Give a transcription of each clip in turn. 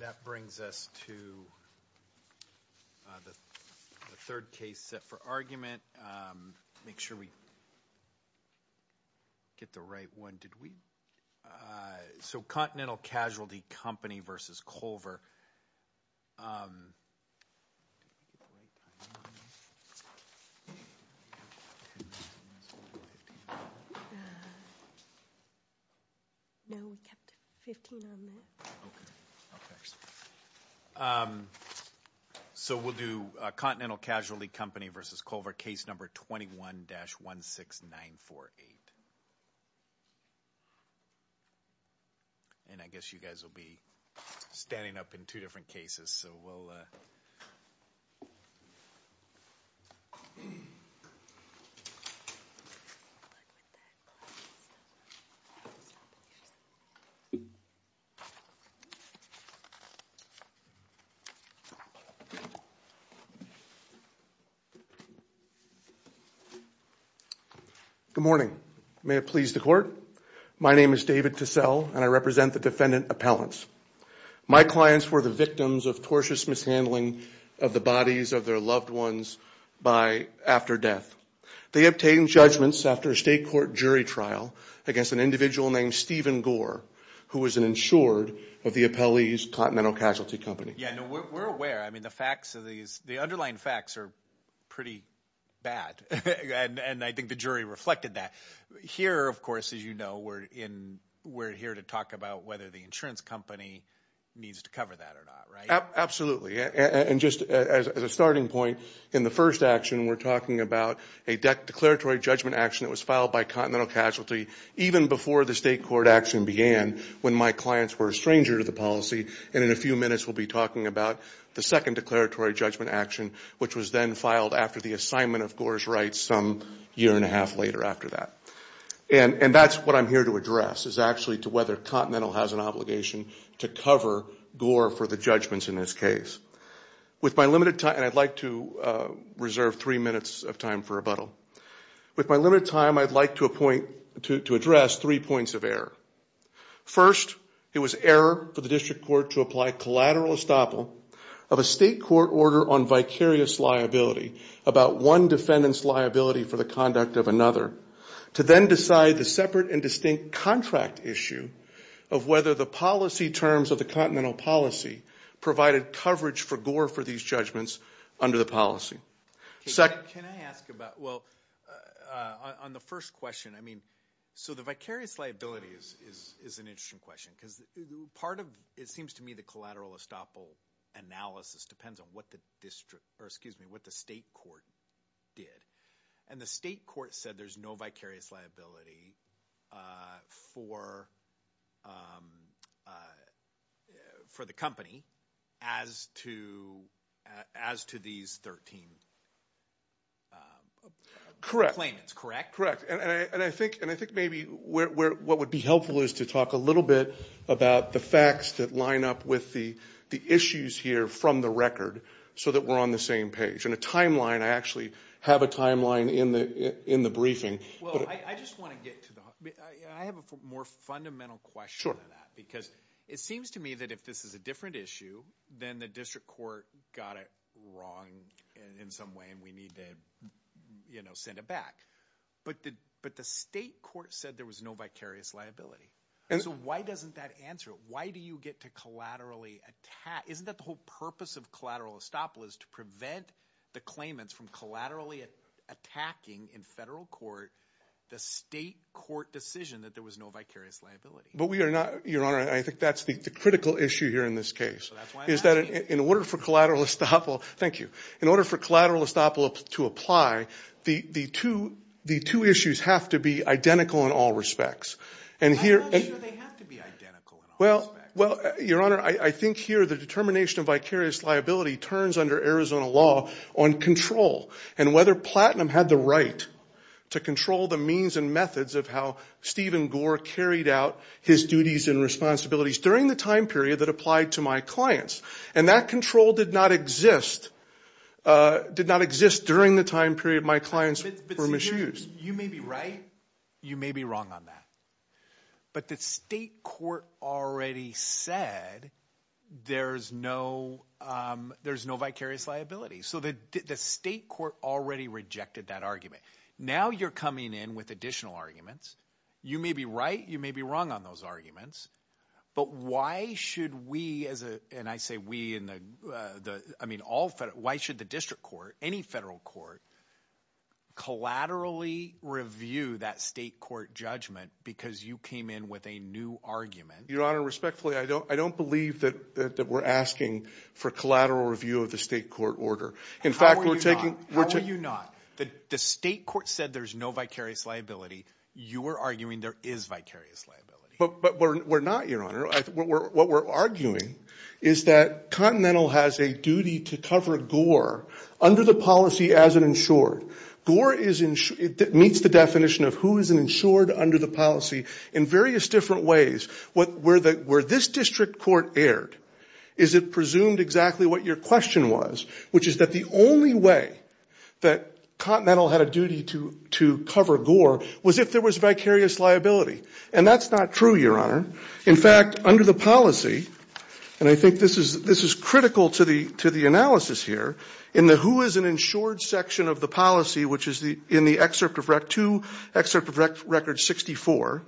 that brings us to the third case set for argument make sure we get the right one did we so Continental Casualty Company versus Culver no so we'll do a Continental Casualty Company versus Culver case number 21 dash 1 6 9 4 8 and I guess you guys will be standing up in two different cases so good morning may it please the court my name is David to sell and I represent the defendant appellants my clients were the victims of tortuous mishandling of the bodies of their loved ones by after death they obtained judgments after a state court jury trial against an individual named Stephen Gore who was an insured of the appellees Continental Casualty Company where I mean the facts of these the underlying facts are pretty bad and I think the jury reflected that here of course as you know we're in we're here to talk about whether the insurance company needs to cover that absolutely and just as a starting point in the first action we're talking about a deck declaratory judgment action was filed by Continental Casualty even before the state court action began when my clients were a stranger to the policy and in a few minutes will be talking about the second declaratory judgment action which was then filed after the assignment of course right some year-and-a-half later after that and and that's what I'm here to address is actually to whether Continental has an obligation to cover Gore for the judgments in this case with my limited time I'd like to reserve three minutes of time for a bottle with my limited time I'd like to point to to address three points of error first it was error for the district court to apply collateral estoppel of a state court order on vicarious liability about one defendants liability for the conduct of another to then decide the separate and distinct contract issue of whether the policy terms of the Continental policy provided coverage for Gore for these judgments under the policy second can I ask about well on the first question I mean so the vicarious liabilities is an interesting question because part of it seems to me the collateral estoppel analysis depends on what the district or excuse me what the state court did and the state court said there's no vicarious liability for for the company as to as to these 13 correct claim it's correct correct and I think and I think maybe where what would be helpful is to talk a little bit about the facts that line up with the the issues here from the record so that we're on the same page and a actually have a timeline in the in the briefing I have a more fundamental question because it seems to me that if this is a different issue then the district court got it wrong in some way and we need to you know send it back but did but the state court said there was no vicarious liability and so why doesn't that answer why do you get to collaterally attack isn't that the whole purpose of collateral estoppel is to prevent the claimants from collaterally attacking in federal court the state court decision that there was no vicarious liability but we are not your honor I think that's the critical issue here in this case is that in order for collateral estoppel thank you in order for collateral estoppel to apply the the to the two issues have to be identical in all respects and here well well your honor I think here the determination of vicarious liability turns under Arizona law on control and whether platinum had the right to control the means and methods of how Stephen Gore carried out his duties and responsibilities during the time period that applied to my clients and that control did not exist did not exist during the time period my clients were misused you may be right you may be wrong on that but the state court already said there's no there's no vicarious liability so that the state court already rejected that argument now you're coming in with additional arguments you may be right you may be wrong on those arguments but why should we as a and I say we in the I mean all fit why should the district court any federal court collaterally review that state court judgment because you came in with a new argument your honor respectfully I don't I don't believe that we're asking for collateral review of the state court order in fact we're taking what are you not the state court said there's no vicarious liability you were arguing there is vicarious liability but we're not your honor what we're arguing is that Continental has a duty to cover Gore under the policy as an insured Gore is insured it meets the definition of who is insured under the policy in various different ways what where that where this district court aired is it presumed exactly what your question was which is that the only way that Continental had a duty to to cover Gore was if there was vicarious liability and that's not true your honor in fact under the policy and I think this is this is critical to the to the analysis here in the who is an insured section of the policy which is the in the excerpt of rec to excerpt of rec record 64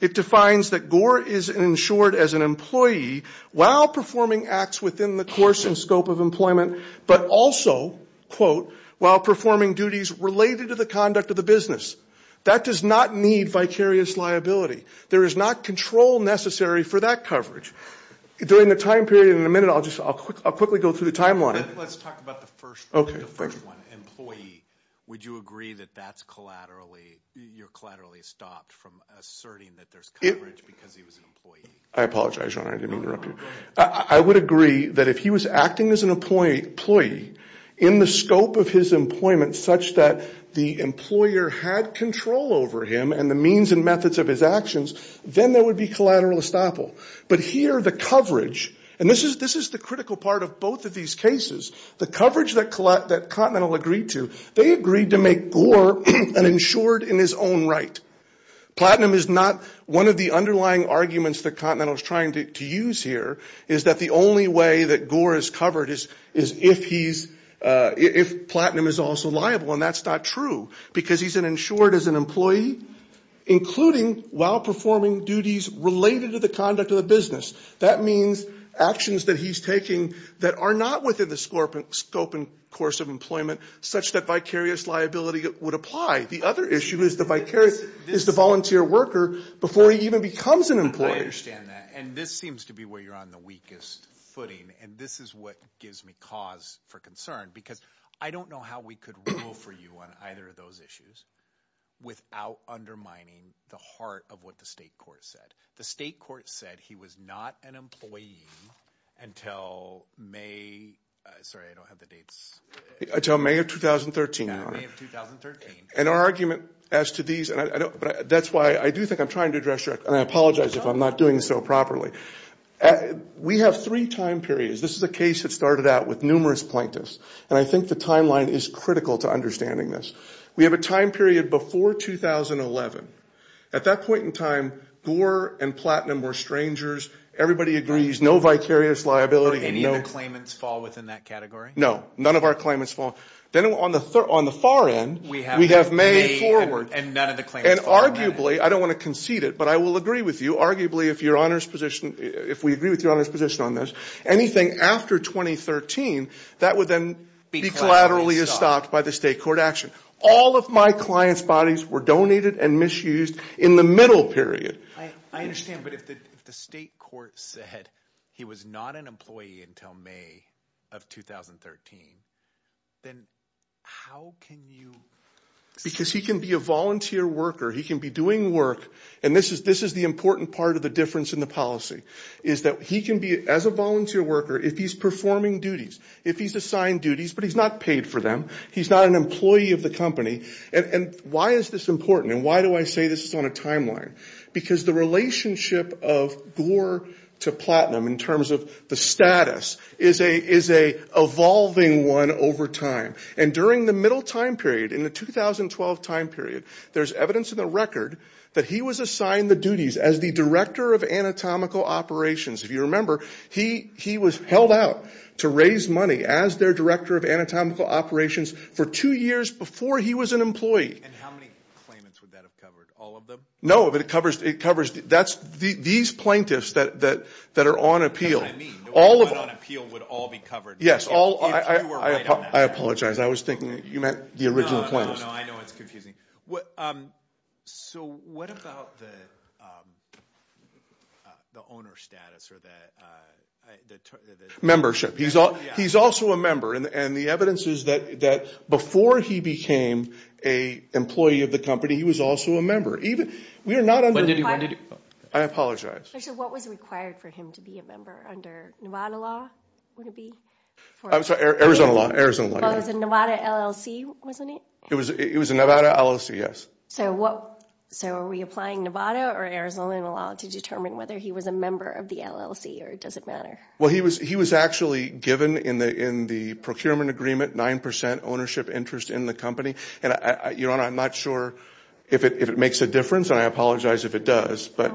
it defines that Gore is insured as an employee while performing acts within the course and scope of employment but also quote while performing duties related to the conduct of the business that does not need vicarious liability there is not control necessary for that coverage during the time period in a minute I'll just I'll quickly go through the timeline okay employee would you agree that that's collaterally you're collaterally stopped from asserting that there's coverage because he was an employee I apologize I didn't mean to interrupt you I would agree that if he was acting as an employee employee in the scope of his employment such that the employer had control over him and the means and methods of his actions then there would be collateral estoppel but here the coverage and this is this is the part of both of these cases the coverage that collect that continental agreed to they agreed to make an insured in his own right platinum is not one of the underlying arguments the continent was trying to use here is that the only way that Gore is covered is is if he's if platinum is also liable and that's not true because he's an insured as an employee including while performing duties related to the conduct of the business that means actions that he's making that are not within the scope and scope and course of employment such that vicarious liability would apply the other issue is the vicarious is the volunteer worker before he even becomes an employee understand that and this seems to be where you're on the weakest footing and this is what gives me cause for concern because I don't know how we could rule for you on either of those issues without undermining the heart of what the state court said the state said he was not an employee until May 2013 and our argument as to these and I don't but that's why I do think I'm trying to address your I apologize if I'm not doing so properly we have three time periods this is a case that started out with numerous plaintiffs and I think the timeline is critical to understanding this we have a time period before 2011 at that point in time Gore and platinum were strangers everybody agrees no vicarious liability any of the claimants fall within that category no none of our claimants fall then on the third on the far end we have we have made forward and none of the claims and arguably I don't want to concede it but I will agree with you arguably if your honors position if we agree with your honor's position on this anything after 2013 that would then be collaterally is stopped by the state court action all of my clients bodies were donated and misused in the middle period I understand but if the state court said he was not an employee until May of 2013 then how can you because he can be a volunteer worker he can be doing work and this is this is the important part of the difference in the policy is that he can be as a volunteer worker if he's performing duties if he's assigned duties but he's not paid for them he's not an employee of the company and why is this important and why do I say this on a timeline because the relationship of Gore to platinum in terms of the status is a is a evolving one over time and during the middle time period in the 2012 time period there's evidence of the record that he was assigned the duties as the director of anatomical operations if you remember he he was held out to raise money as their director of anatomical operations for two years before he was an employee no but it covers it covers that's the these plaintiffs that that that are on appeal all of you would all be covered yes all I apologize I was thinking you know I know it's confusing what so what about the owner status or that membership he's all he's also a member and the evidence is that that before he became a employee of the company he was also a member even we are not I did you want to do I apologize so what was required for him to be a member under Nevada law Arizona law Arizona Nevada LLC wasn't it it was it was a Nevada LLC yes so what so are we applying Nevada or Arizona law to determine whether he was a member of the LLC or does it matter well he was he was actually given in the in the procurement agreement 9% ownership interest in the company and I you know I'm not sure if it makes a difference and I apologize if it does but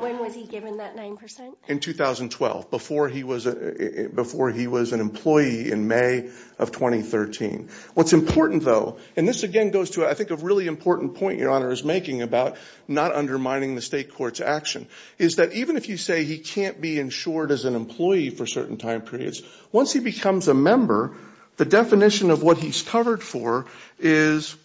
in 2012 before he was a before he was an employee in May of 2013 what's important though and this again goes to I think a really important point your honor is making about not undermining the state courts action is that even if you say he can't be insured as an employee for certain time periods once he becomes a member the definition of what he's covered for is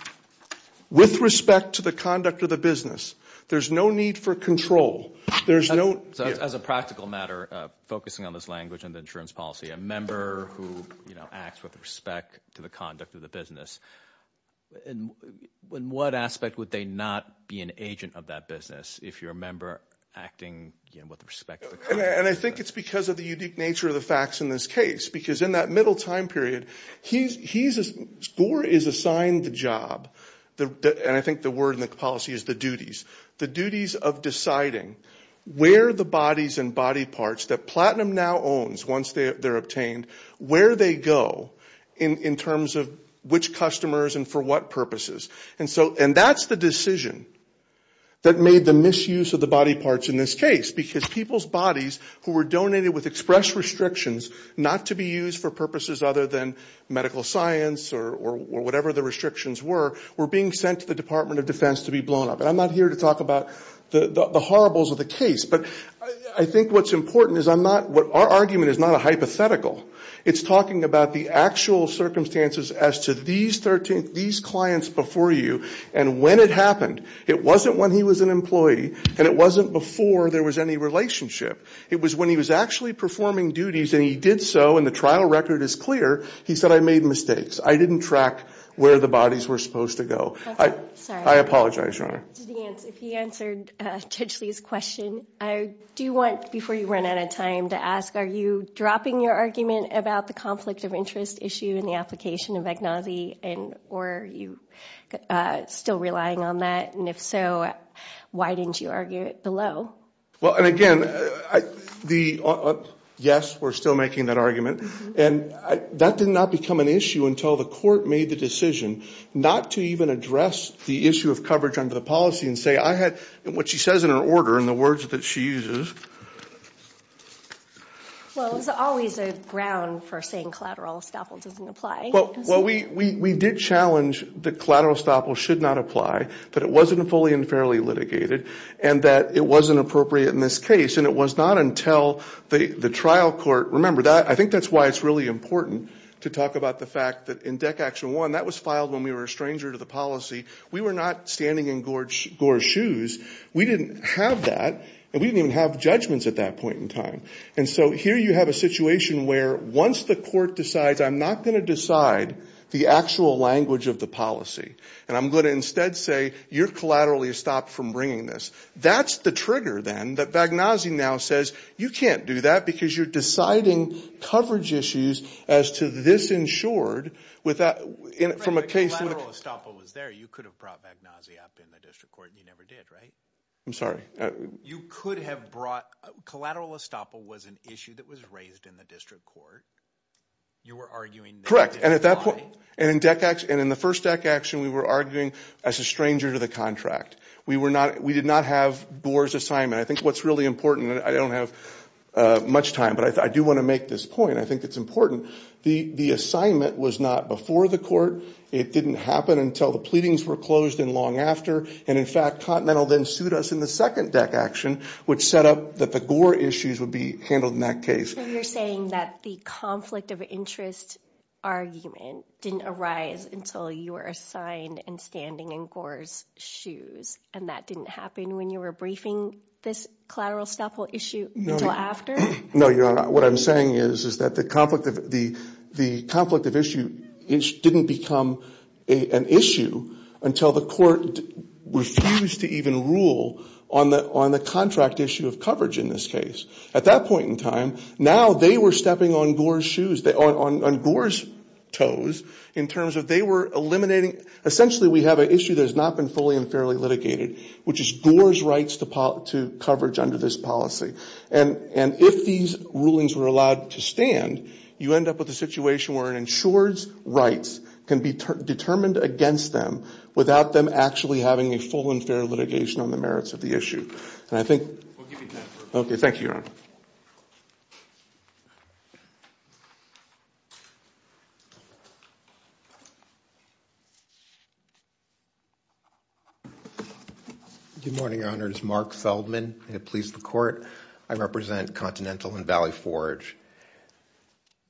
with respect to the conduct of the business there's no need for control there's no as a focusing on this language and the insurance policy a member who you know acts with respect to the conduct of the business and when what aspect would they not be an agent of that business if you're a member acting again with respect and I think it's because of the unique nature of the facts in this case because in that middle time period he's he's a score is assigned the job the and I think the word in the policy is the duties the duties of deciding where the bodies and body parts that platinum now owns once they are obtained where they go in in terms of which customers and for what purposes and so and that's the decision that made the misuse of the body parts in this case because people's bodies who were donated with express restrictions not to be used for purposes other than medical science or whatever the restrictions were were being sent to the Department of Defense to be blown up and I'm not here to talk about the horribles of the case but I think what's important is I'm not what our argument is not a hypothetical it's talking about the actual circumstances as to these 13 these clients before you and when it happened it wasn't when he was an employee and it wasn't before there was any relationship it was when he was actually performing duties and he did so and the trial record is clear he said I made mistakes I didn't track where the bodies were supposed to go I apologize your honor if he answered potentially his question I do want before you run out of time to ask are you dropping your argument about the conflict of interest issue in the application of agnostic and or you still relying on that and if so why didn't you argue it below well and again I the yes we're still making that argument and that did not become an issue until the made the decision not to even address the issue of coverage under the policy and say I had what she says in her order in the words that she uses well it's always a ground for saying collateral estoppel doesn't apply well we we did challenge the collateral estoppel should not apply but it wasn't a fully and fairly litigated and that it wasn't appropriate in this case and it was not until the the trial court remember that I think that's why it's really important to talk about the fact that in deck action one that was filed when we were a stranger to the policy we were not standing in gorgeous shoes we didn't have that and we didn't have judgments at that point in time and so here you have a situation where once the court decides I'm not going to decide the actual language of the policy and I'm going to instead say you're collaterally stopped from bringing this that's the trigger then that bag now now says you can't do that because you're deciding coverage issues as to this insured with that in it from a case was there you could have brought back nausea up in the district court you never did right I'm sorry you could have brought collateral estoppel was an issue that was raised in the district court you were arguing correct and at that point and in deck X and in the first deck action we were arguing as a stranger to the contract we were not we did not have doors assignment I think what's really important I don't have much time but I do want to make this point I think it's important the the assignment was not before the court it didn't happen until the pleadings were closed and long after and in fact continental then sued us in the second deck action which set up that the Gore issues would be handled in that case you're saying that the conflict of interest argument didn't arise until you assigned and standing in Gore's shoes and that didn't happen when you were briefing this collateral staple issue no after no you're not what I'm saying is is that the conflict of the the conflict of issue it didn't become an issue until the court refused to even rule on the on the contract issue of coverage in this case at that point in time now they were stepping on Gore's shoes they are on Gore's toes in terms of they were eliminating essentially we have an issue that has not been fully and fairly litigated which is Gore's rights to pop to coverage under this policy and and if these rulings were allowed to stand you end up with a situation where an insured rights can be determined against them without them actually having a full and fair litigation on the merits of the morning honors Mark Feldman it pleased the court I represent Continental and Valley Forge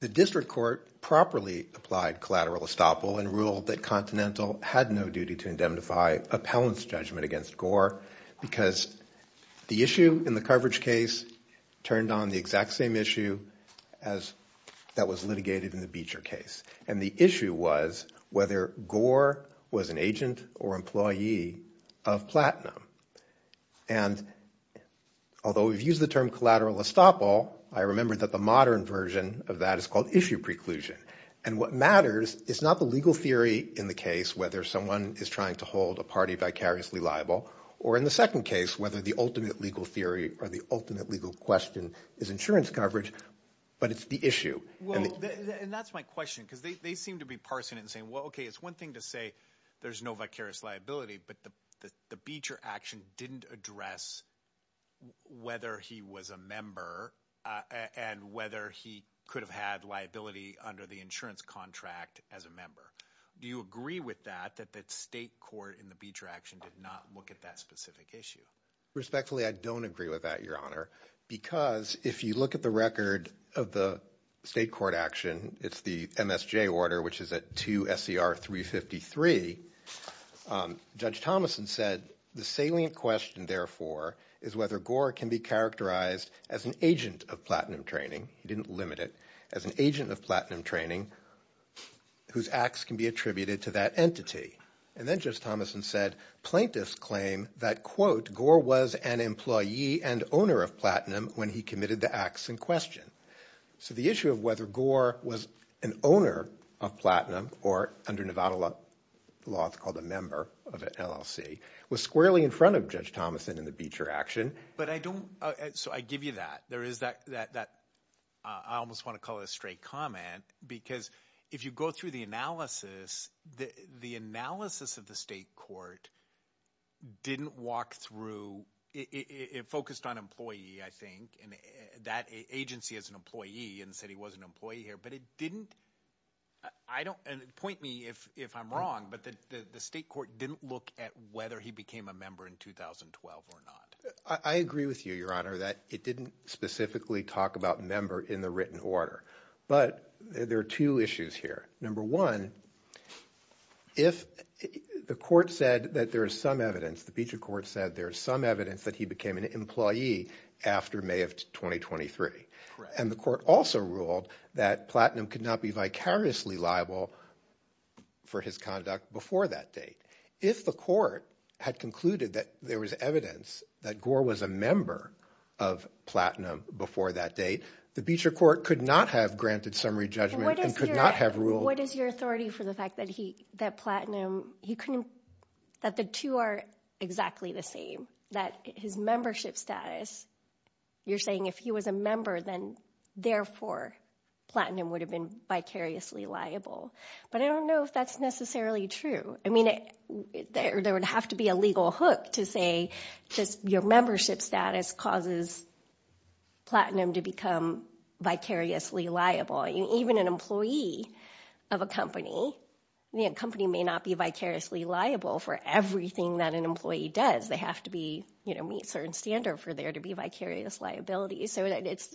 the district court properly applied collateral estoppel and ruled that Continental had no duty to indemnify appellants judgment against Gore because the issue in the coverage case turned on the exact same issue as that was litigated in the Beecher case and the issue was whether Gore was an agent or employee of platinum and although we've used the term collateral estoppel I remember that the modern version of that is called issue preclusion and what matters is not the legal theory in the case whether someone is trying to hold a party vicariously liable or in the second case whether the ultimate legal theory or the ultimate legal question is insurance coverage but it's the issue and that's my question because they seem to be parsing and saying well okay it's one thing to say there's no vicarious liability but the the Beecher action didn't address whether he was a member and whether he could have had liability under the insurance contract as a member do you agree with that that that state court in the Beecher action did not look at that specific issue respectfully I don't agree with that your honor because if you look at the record of the state court action it's the MSJ order which is at 2 SCR 353 judge Thomasson said the salient question therefore is whether Gore can be characterized as an agent of platinum training he didn't limit it as an agent of platinum training whose acts can be attributed to that entity and then just Thomasson said plaintiffs claim that quote Gore was an employee and owner of when he committed the acts in question so the issue of whether Gore was an owner of platinum or under Nevada law it's called a member of an LLC was squarely in front of judge Thomasson in the Beecher action but I don't so I give you that there is that that that I almost want to call it a straight comment because if you go through the analysis the the analysis of the state didn't walk through it focused on employee I think and that agency as an employee and said he was an employee here but it didn't I don't and point me if if I'm wrong but that the state court didn't look at whether he became a member in 2012 or not I agree with you your honor that it didn't specifically talk about member in the written order but there are two issues here number one if the court said that there is some evidence the Beecher court said there is some evidence that he became an employee after May of 2023 and the court also ruled that platinum could not be vicariously liable for his conduct before that date if the court had concluded that there was evidence that Gore was a member of platinum before that date the Beecher court could not have granted summary judgment and could not have ruled what is your authority for the fact that he that platinum he couldn't that the two are exactly the same that his membership status you're saying if he was a member then therefore platinum would have been vicariously liable but I don't know if that's necessarily true I mean it there would have to be a legal hook to say just your membership status causes platinum to become vicariously liable you even an employee of a company the company may not be vicariously liable for everything that an employee does they have to be you know meet certain standard for there to be vicarious liability so that it's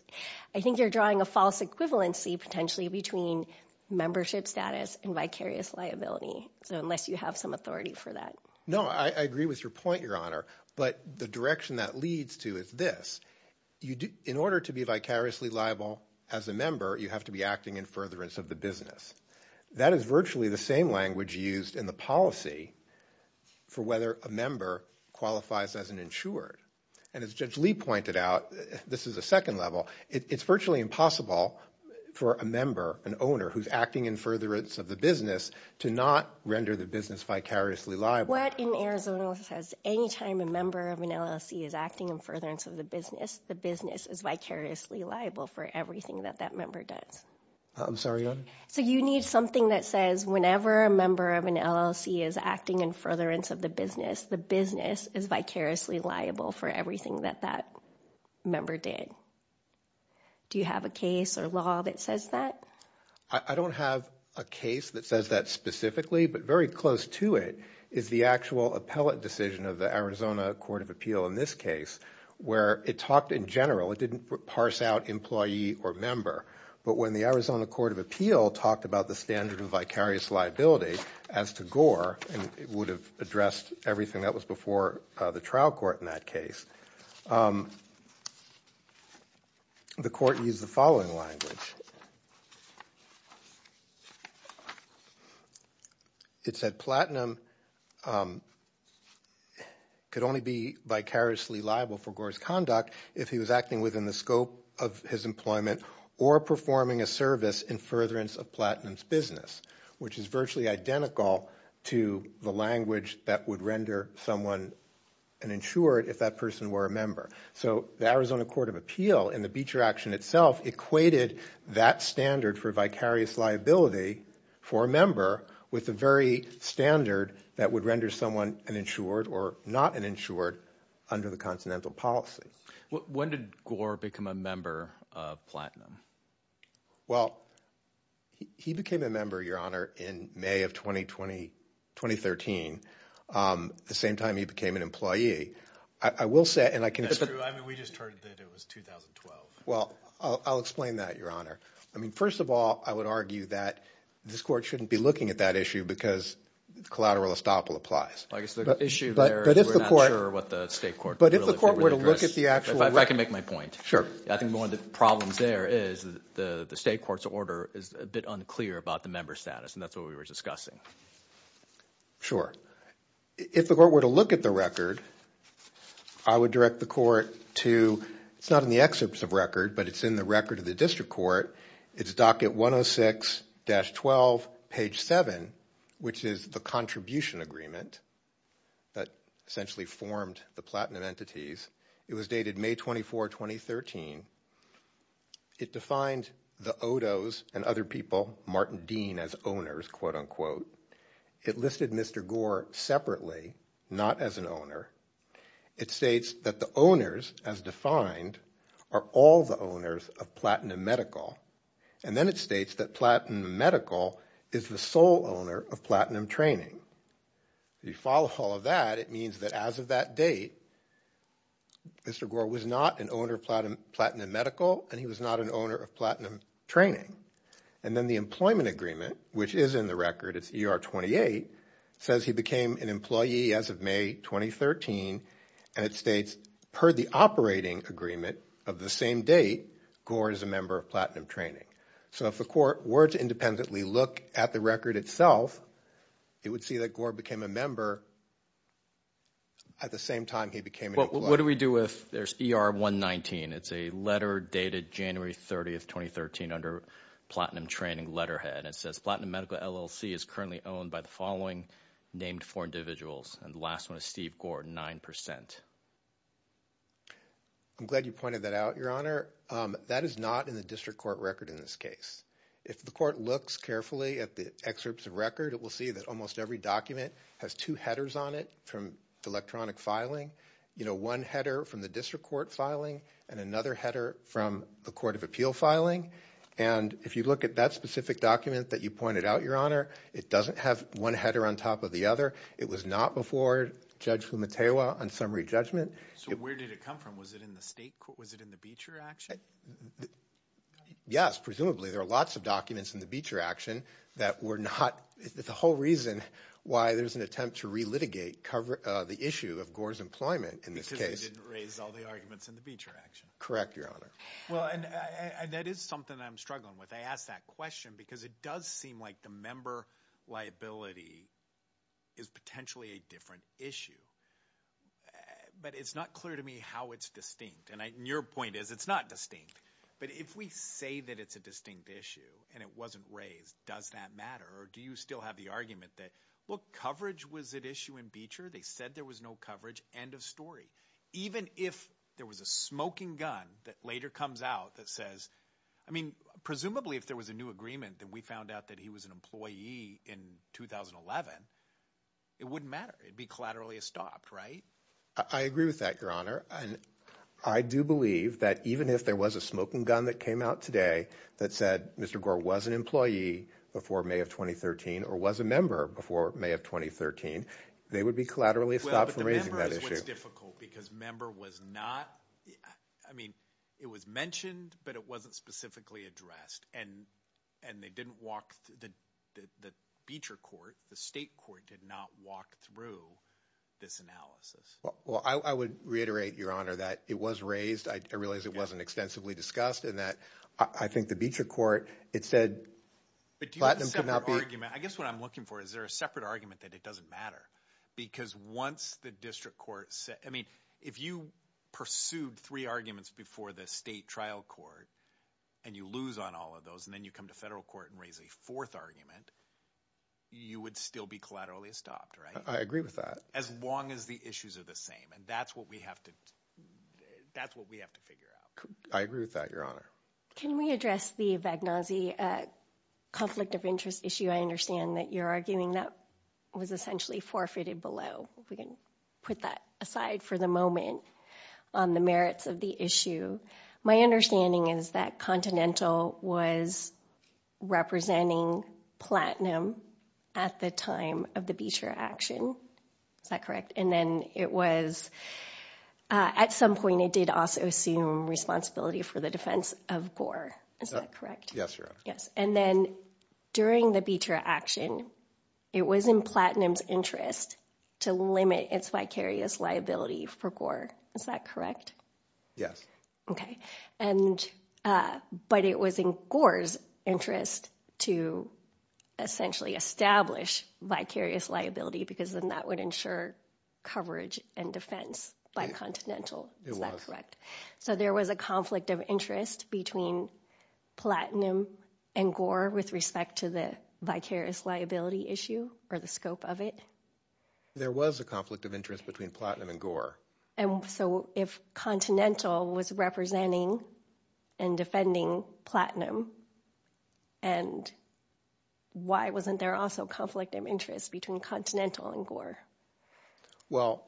I think you're drawing a false equivalency potentially between membership status and vicarious liability so unless you have some authority for that no I agree with your point your honor but the direction that leads to is this you do in order to be vicariously liable as a member you have to be acting in furtherance of the business that is virtually the same language used in the policy for whether a member qualifies as an insured and as Judge Lee pointed out this is a second level it's virtually impossible for a member an owner who's acting in furtherance of the business to not render the business vicariously liable in Arizona says anytime a member of an LLC is acting in furtherance of the business the business is vicariously liable for everything that that member does I'm sorry so you need something that says whenever a member of an LLC is acting in furtherance of the business the business is vicariously liable for everything that that member did do you have a case or law that says that I don't have a case that says that specifically but very close to it is the actual appellate decision of the Arizona Court of Appeal in this case where it talked in general it didn't parse out employee or member but when the Arizona Court of Appeal talked about the standard of vicarious liability as to gore and it would have addressed everything that was before the trial court in that case the court used the following language it said platinum could only be vicariously liable for gore's conduct if he was acting within the scope of his employment or performing a service in furtherance of Platinum's business which is virtually identical to the language that would render someone an insured if that person were a member so the Arizona Court of Appeal in the Beecher action itself equated that standard for vicarious liability for a member with the very standard that would render someone an insured or not an insured under the continental policy when did Gore become a member of Platinum well he became a member your honor in May of 2020 2013 the same time he became an employee I will say and I can we just heard that it was 2012 well I'll explain that your honor I mean first of all I would argue that this court shouldn't be looking at that issue because the collateral estoppel applies I guess the issue but if the court what the state court but if the court were to look at the actual I can make my point sure I think one of the problems there is the the state courts order is a bit unclear about the member status and that's what we were discussing sure if the court were to look at the record I would direct the court to it's not in the excerpts of record but it's in the record of the district court it's docket 106 dash 12 page 7 which is the contribution agreement that essentially formed the platinum entities it was dated May 24 2013 it defined the odos and other people Martin Dean as owners quote-unquote it listed mr. Gore separately not as an owner it states that the owners as defined are all the owners of platinum medical and then it states that platinum medical is the sole owner of platinum training you follow all of that it means that as of that date mr. Gore was not an owner platinum platinum medical and he was not an owner of platinum training and then the employment agreement which is in the record it's er 28 says he became an employee as of May 2013 and it states per the operating agreement of the same date Gore is a member of platinum training so if the court were to independently look at the record itself it would see that Gore became a member at the same time he became what do we do if there's er 119 it's a letter dated January 30th 2013 under platinum training letterhead it says platinum medical LLC is currently owned by the following named for individuals and the last one is Steve Gordon 9% I'm glad you pointed that out your honor that is not in the district court record in this case if the court looks carefully at the excerpts of record it will see that almost every document has two headers on it from electronic filing you know one header from the district court filing and another header from the court of filing and if you look at that specific document that you pointed out your honor it doesn't have one header on top of the other it was not before judge who Mateo on summary judgment so where did it come from was it in the state was it in the Beecher action yes presumably there are lots of documents in the Beecher action that were not the whole reason why there's an attempt to relitigate cover the issue of Gore's employment in this case correct your honor well and that is something that I'm struggling with I asked that question because it does seem like the member liability is potentially a different issue but it's not clear to me how it's distinct and I your point is it's not distinct but if we say that it's a distinct issue and it wasn't raised does that matter or do you still have the argument that look coverage was at issue in Beecher they said there was no coverage end of story even if there was a smoking gun that later comes out that says I mean presumably if there was a new agreement that we found out that he was an employee in 2011 it wouldn't matter it'd be collaterally stopped right I agree with that your honor and I do believe that even if there was a smoking gun that came out today that said mr. Gore was an employee before May of 2013 or was a member before May of 2013 they would be collaterally stopped from raising that issue because member was not I mean it was mentioned but it wasn't specifically addressed and and they didn't walk the Beecher court the state court did not walk through this analysis well I would reiterate your honor that it was raised I realized it wasn't extensively discussed and that I think the Beecher court it said but do you have a separate argument I guess what I'm looking for is there a separate argument that it doesn't matter because once the district courts I mean if you pursued three arguments before the state trial court and you lose on all of those and then you come to federal court and raise a fourth argument you would still be collaterally stopped right I agree with that as long as the issues are the same and that's what we have to that's what we have to figure out I agree with that your honor can we address the Vagnozzi conflict of interest issue I understand that you're arguing that was essentially forfeited below we can put that aside for the moment on the merits of the issue my understanding is that continental was representing platinum at the time of the Beecher action is that correct and then it was at some point it did also assume responsibility for the defense of core is that correct yes your yes and during the Beecher action it was in Platinum's interest to limit its vicarious liability for core is that correct yes okay and but it was in Gore's interest to essentially establish vicarious liability because then that would ensure coverage and defense by continental it was correct so there was a conflict of interest between platinum and gore with respect to the vicarious liability issue or the scope of it there was a conflict of interest between platinum and gore and so if continental was representing and defending platinum and why wasn't there also conflict of interest between continental and gore well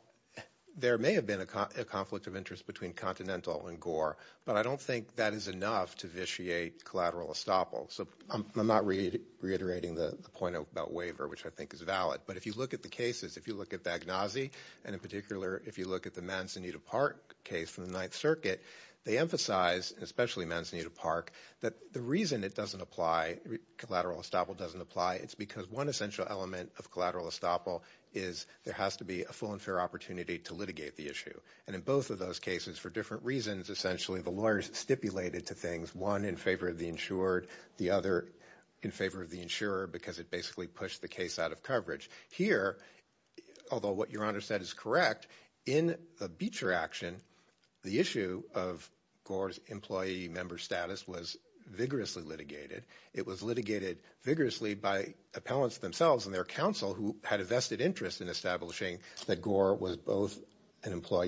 there may have been a conflict of interest between continental and gore but I don't think that is enough to vitiate collateral estoppel so I'm not reiterating the point about waiver which I think is valid but if you look at the cases if you look at Agnazi and in particular if you look at the Manzanita Park case from the Ninth Circuit they emphasize especially Manzanita Park that the reason it doesn't apply collateral estoppel doesn't apply it's because one essential element of collateral estoppel is there has to be a full and fair opportunity to litigate the issue and in both of those cases for different reasons essentially the lawyers stipulated to things one in favor of the insured the other in favor of the insurer because it basically pushed the case out of coverage here although what your honor said is correct in a Beecher action the issue of gore's employee member status was vigorously litigated it was litigated vigorously by appellants themselves and their counsel who had a vested interest in establishing that gore was both an as well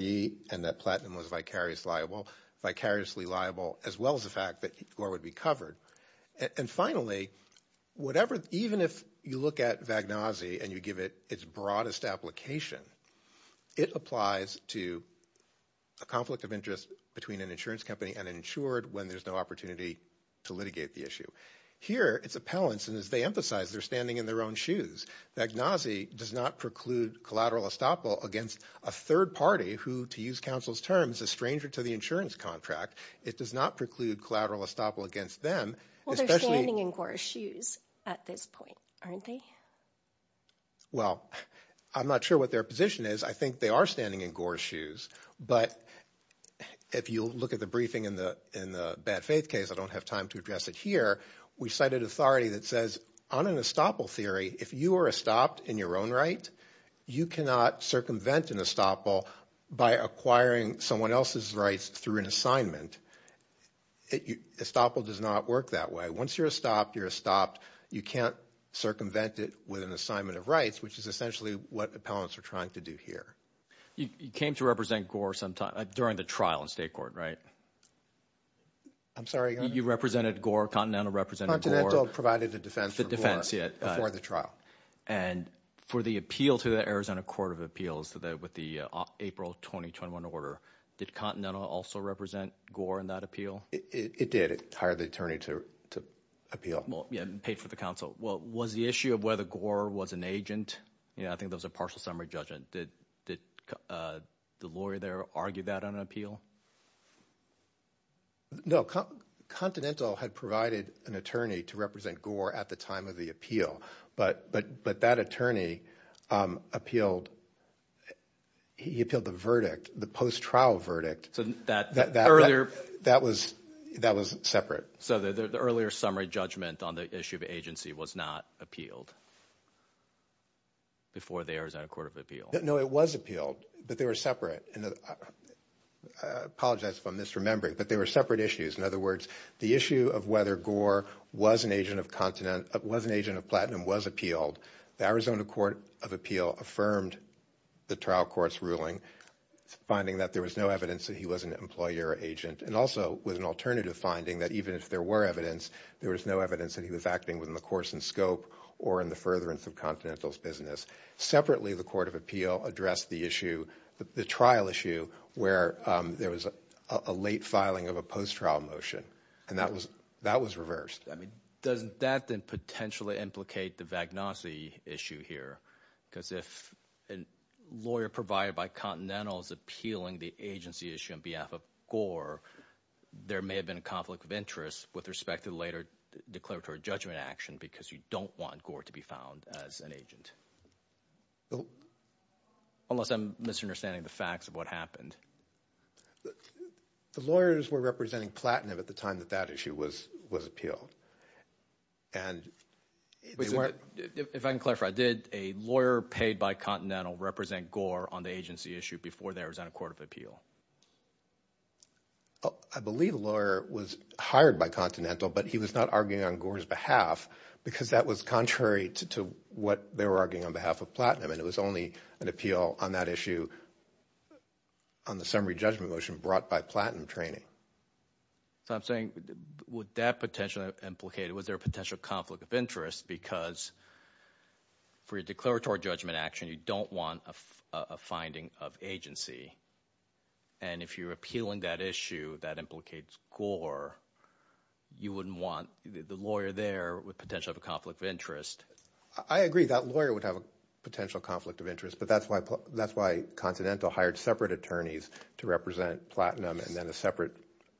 as the fact that gore would be covered and finally whatever even if you look at Vagnozzi and you give it its broadest application it applies to a conflict of interest between an insurance company and insured when there's no opportunity to litigate the issue here it's appellants and as they emphasize they're standing in their own shoes Vagnozzi does not preclude collateral estoppel against a third party who to counsel's terms a stranger to the insurance contract it does not preclude collateral estoppel against them standing in Gore's shoes at this point aren't they well I'm not sure what their position is I think they are standing in Gore's shoes but if you look at the briefing in the in the bad faith case I don't have time to address it here we cited authority that says on an estoppel theory if you are a stopped in your own right you cannot circumvent an estoppel by acquiring someone else's rights through an assignment it you estoppel does not work that way once you're stopped you're stopped you can't circumvent it with an assignment of rights which is essentially what appellants are trying to do here you came to represent Gore sometime during the trial in state court right I'm sorry you represented Gore continental represented provided the defense the defense yet before the trial and for the appeal to the Arizona Court of Appeals today with the April 2021 order did Continental also represent Gore in that appeal it did it hired the attorney to appeal well yeah paid for the council well was the issue of whether Gore was an agent you know I think there's a partial summary judgment did the lawyer there argue that on an appeal no Continental had provided an attorney to Gore at the time of the appeal but but but that attorney appealed he appealed the verdict the post trial verdict so that that earlier that was that was separate so that the earlier summary judgment on the issue of agency was not appealed before the Arizona Court of Appeals no it was appealed but they were separate and I apologize if I'm misremembering but they were separate issues in other words the issue of whether Gore was an agent of continent was an agent of platinum was appealed the Arizona Court of Appeal affirmed the trial courts ruling finding that there was no evidence that he was an employer agent and also with an alternative finding that even if there were evidence there was no evidence that he was acting within the course and scope or in the furtherance of Continental's business separately the Court of Appeal addressed the issue the trial issue where there was a late filing of a post trial motion and that was that was reversed I mean doesn't that then potentially implicate the Vagnosi issue here because if a lawyer provided by Continental's appealing the agency issue on behalf of Gore there may have been a conflict of interest with respect to the later declaratory judgment action because you don't want Gore to be found as an agent unless I'm misunderstanding the facts of what happened the lawyers were representing platinum at the time that that issue was was appealed and if I can clarify I did a lawyer paid by Continental represent Gore on the agency issue before there was on a court of appeal I believe a lawyer was hired by Continental but he was not arguing on Gore's behalf because that was contrary to what they were arguing on behalf of platinum and it was only an appeal on that issue on the summary judgment motion brought by platinum training I'm saying would that potentially implicated was there a potential conflict of interest because for your declaratory judgment action you don't want a finding of agency and if you're appealing that issue that implicates Gore you wouldn't want the lawyer there with potential conflict of interest I agree that lawyer would have a potential conflict of interest but that's why that's why Continental hired separate attorneys to represent platinum and then a separate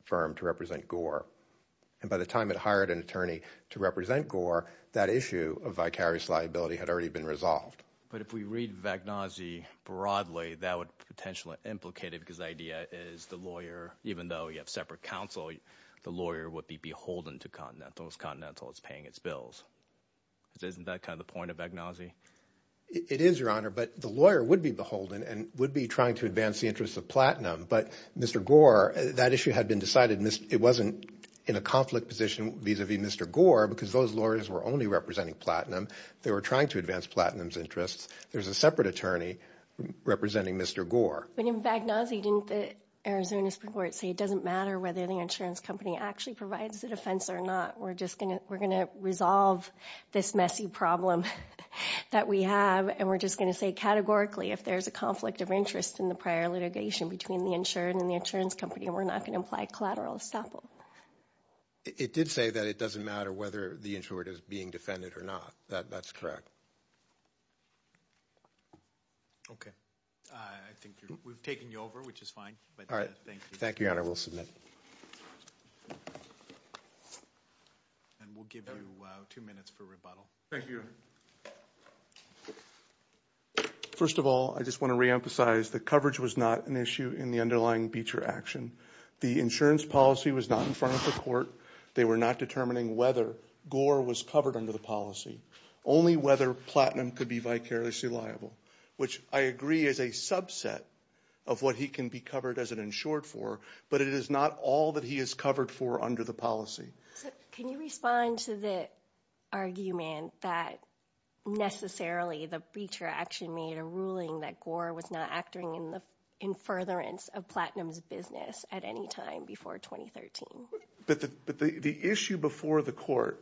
firm to represent Gore and by the time it hired an attorney to represent Gore that issue of vicarious liability had already been resolved but if we read Vagnosi broadly that would potentially implicated because the idea is the lawyer even though you have separate counsel the lawyer would be beholden to Continental as Continental is paying its bills isn't that kind of point of Vagnosi it is your honor but the lawyer would be beholden and would be trying to advance the interests of platinum but mr. Gore that issue had been decided in this it wasn't in a conflict position vis-a-vis mr. Gore because those lawyers were only representing platinum they were trying to advance Platinum's interests there's a separate attorney representing mr. Gore but in Vagnosi didn't the Arizona Supreme Court say it doesn't matter whether the insurance company actually provides the defense or not we're just gonna we're gonna resolve this messy problem that we have and we're just gonna say categorically if there's a conflict of interest in the prior litigation between the insured and the insurance company we're not going to apply collateral estoppel it did say that it doesn't matter whether the insured is being defended or not that that's correct okay I think we've taken you over which is fine all right thank you thank you I will submit and we'll give you two minutes for rebuttal thank you first of all I just want to reemphasize the coverage was not an issue in the underlying Beecher action the insurance policy was not in front of the court they were not determining whether Gore was covered under the policy only whether platinum could be vicariously liable which I agree is a subset of what he can be covered as an insured for but it is not all that he is covered for under the policy can you respond to the argument that necessarily the feature action made a ruling that Gore was not acting in the in furtherance of Platinum's business at any time before 2013 but the issue before the court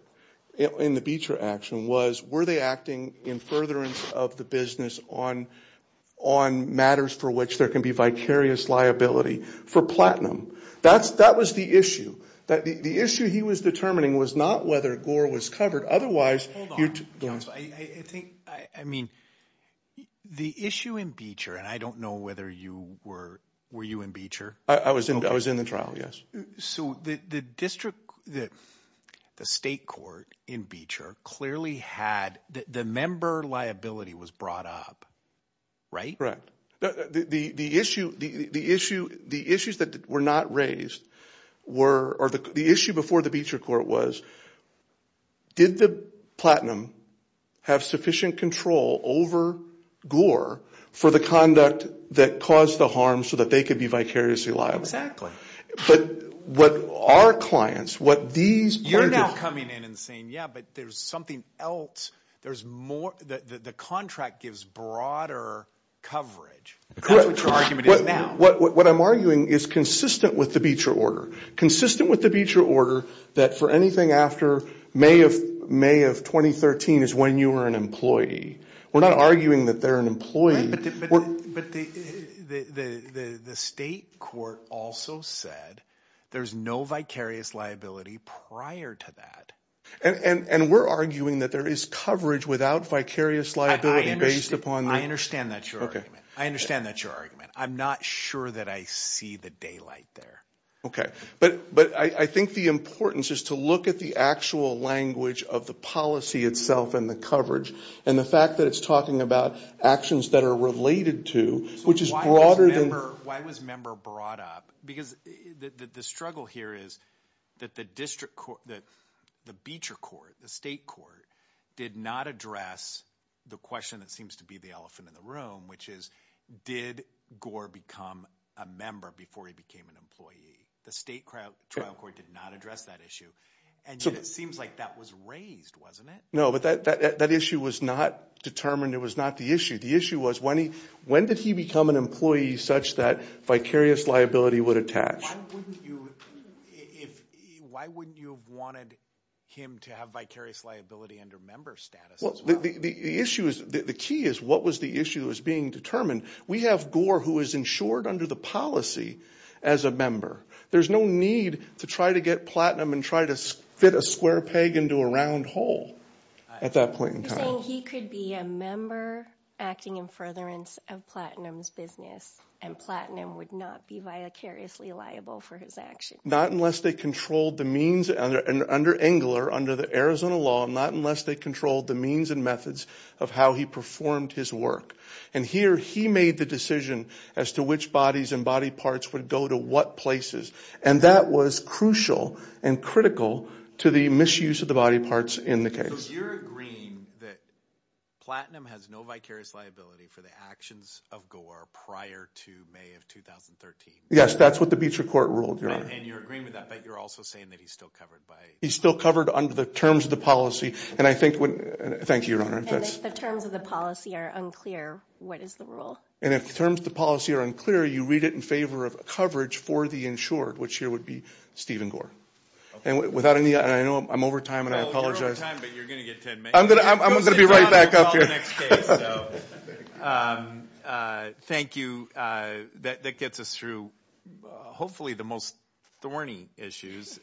in the Beecher action was were they acting in furtherance of the business on on matters for which there can be vicarious liability for platinum that's that was the issue that the issue he was determining was not whether Gore was covered otherwise I mean the issue in Beecher and I don't know whether you were were you in I was in I was in the trial yes so the district that the state court in Beecher clearly had the member liability was brought up right correct the the issue the issue the issues that were not raised were or the issue before the Beecher court was did the platinum have sufficient control over Gore for the that caused the harm so that they could be vicariously liable exactly but what our clients what these you're not coming in and saying yeah but there's something else there's more that the contract gives broader coverage what I'm arguing is consistent with the Beecher order consistent with the Beecher order that for anything after May of May of 2013 is when you were an we're not arguing that they're an employee but the state court also said there's no vicarious liability prior to that and and we're arguing that there is coverage without vicarious liability based upon I understand that okay I understand that your argument I'm not sure that I see the daylight there okay but but I think the importance is to look at the actual language of the itself and the coverage and the fact that it's talking about actions that are related to which is broader than why was member brought up because the struggle here is that the district court that the Beecher court the state court did not address the question that seems to be the elephant in the room which is did Gore become a member before he became an employee the state crowd trial court did and so it seems like that was raised wasn't it no but that that issue was not determined it was not the issue the issue was when he when did he become an employee such that vicarious liability would attach why wouldn't you have wanted him to have vicarious liability under member status well the issue is the key is what was the issue is being determined we have Gore who is insured under the policy as a member there's no need to try to get platinum and try to fit a square peg into a round hole at that point he could be a member acting in furtherance of Platinum's business and platinum would not be vicariously liable for his action not unless they controlled the means and under Engler under the Arizona law not unless they controlled the means and methods of how he performed his work and here he made the decision as to which body parts would go to what places and that was crucial and critical to the misuse of the body parts in the case you're agreeing that platinum has no vicarious liability for the actions of Gore prior to May of 2013 yes that's what the Beecher court ruled and you're agreeing with that but you're also saying that he's still covered by he's still covered under the terms of the policy and I think when thank you your honor that's the terms of the policy are unclear what is the rule and terms the policy are unclear you read it in favor of coverage for the insured which here would be Stephen Gore and without any I know I'm over time and I apologize I'm gonna I'm gonna be right back up here thank you that gets us through hopefully the most thorny issues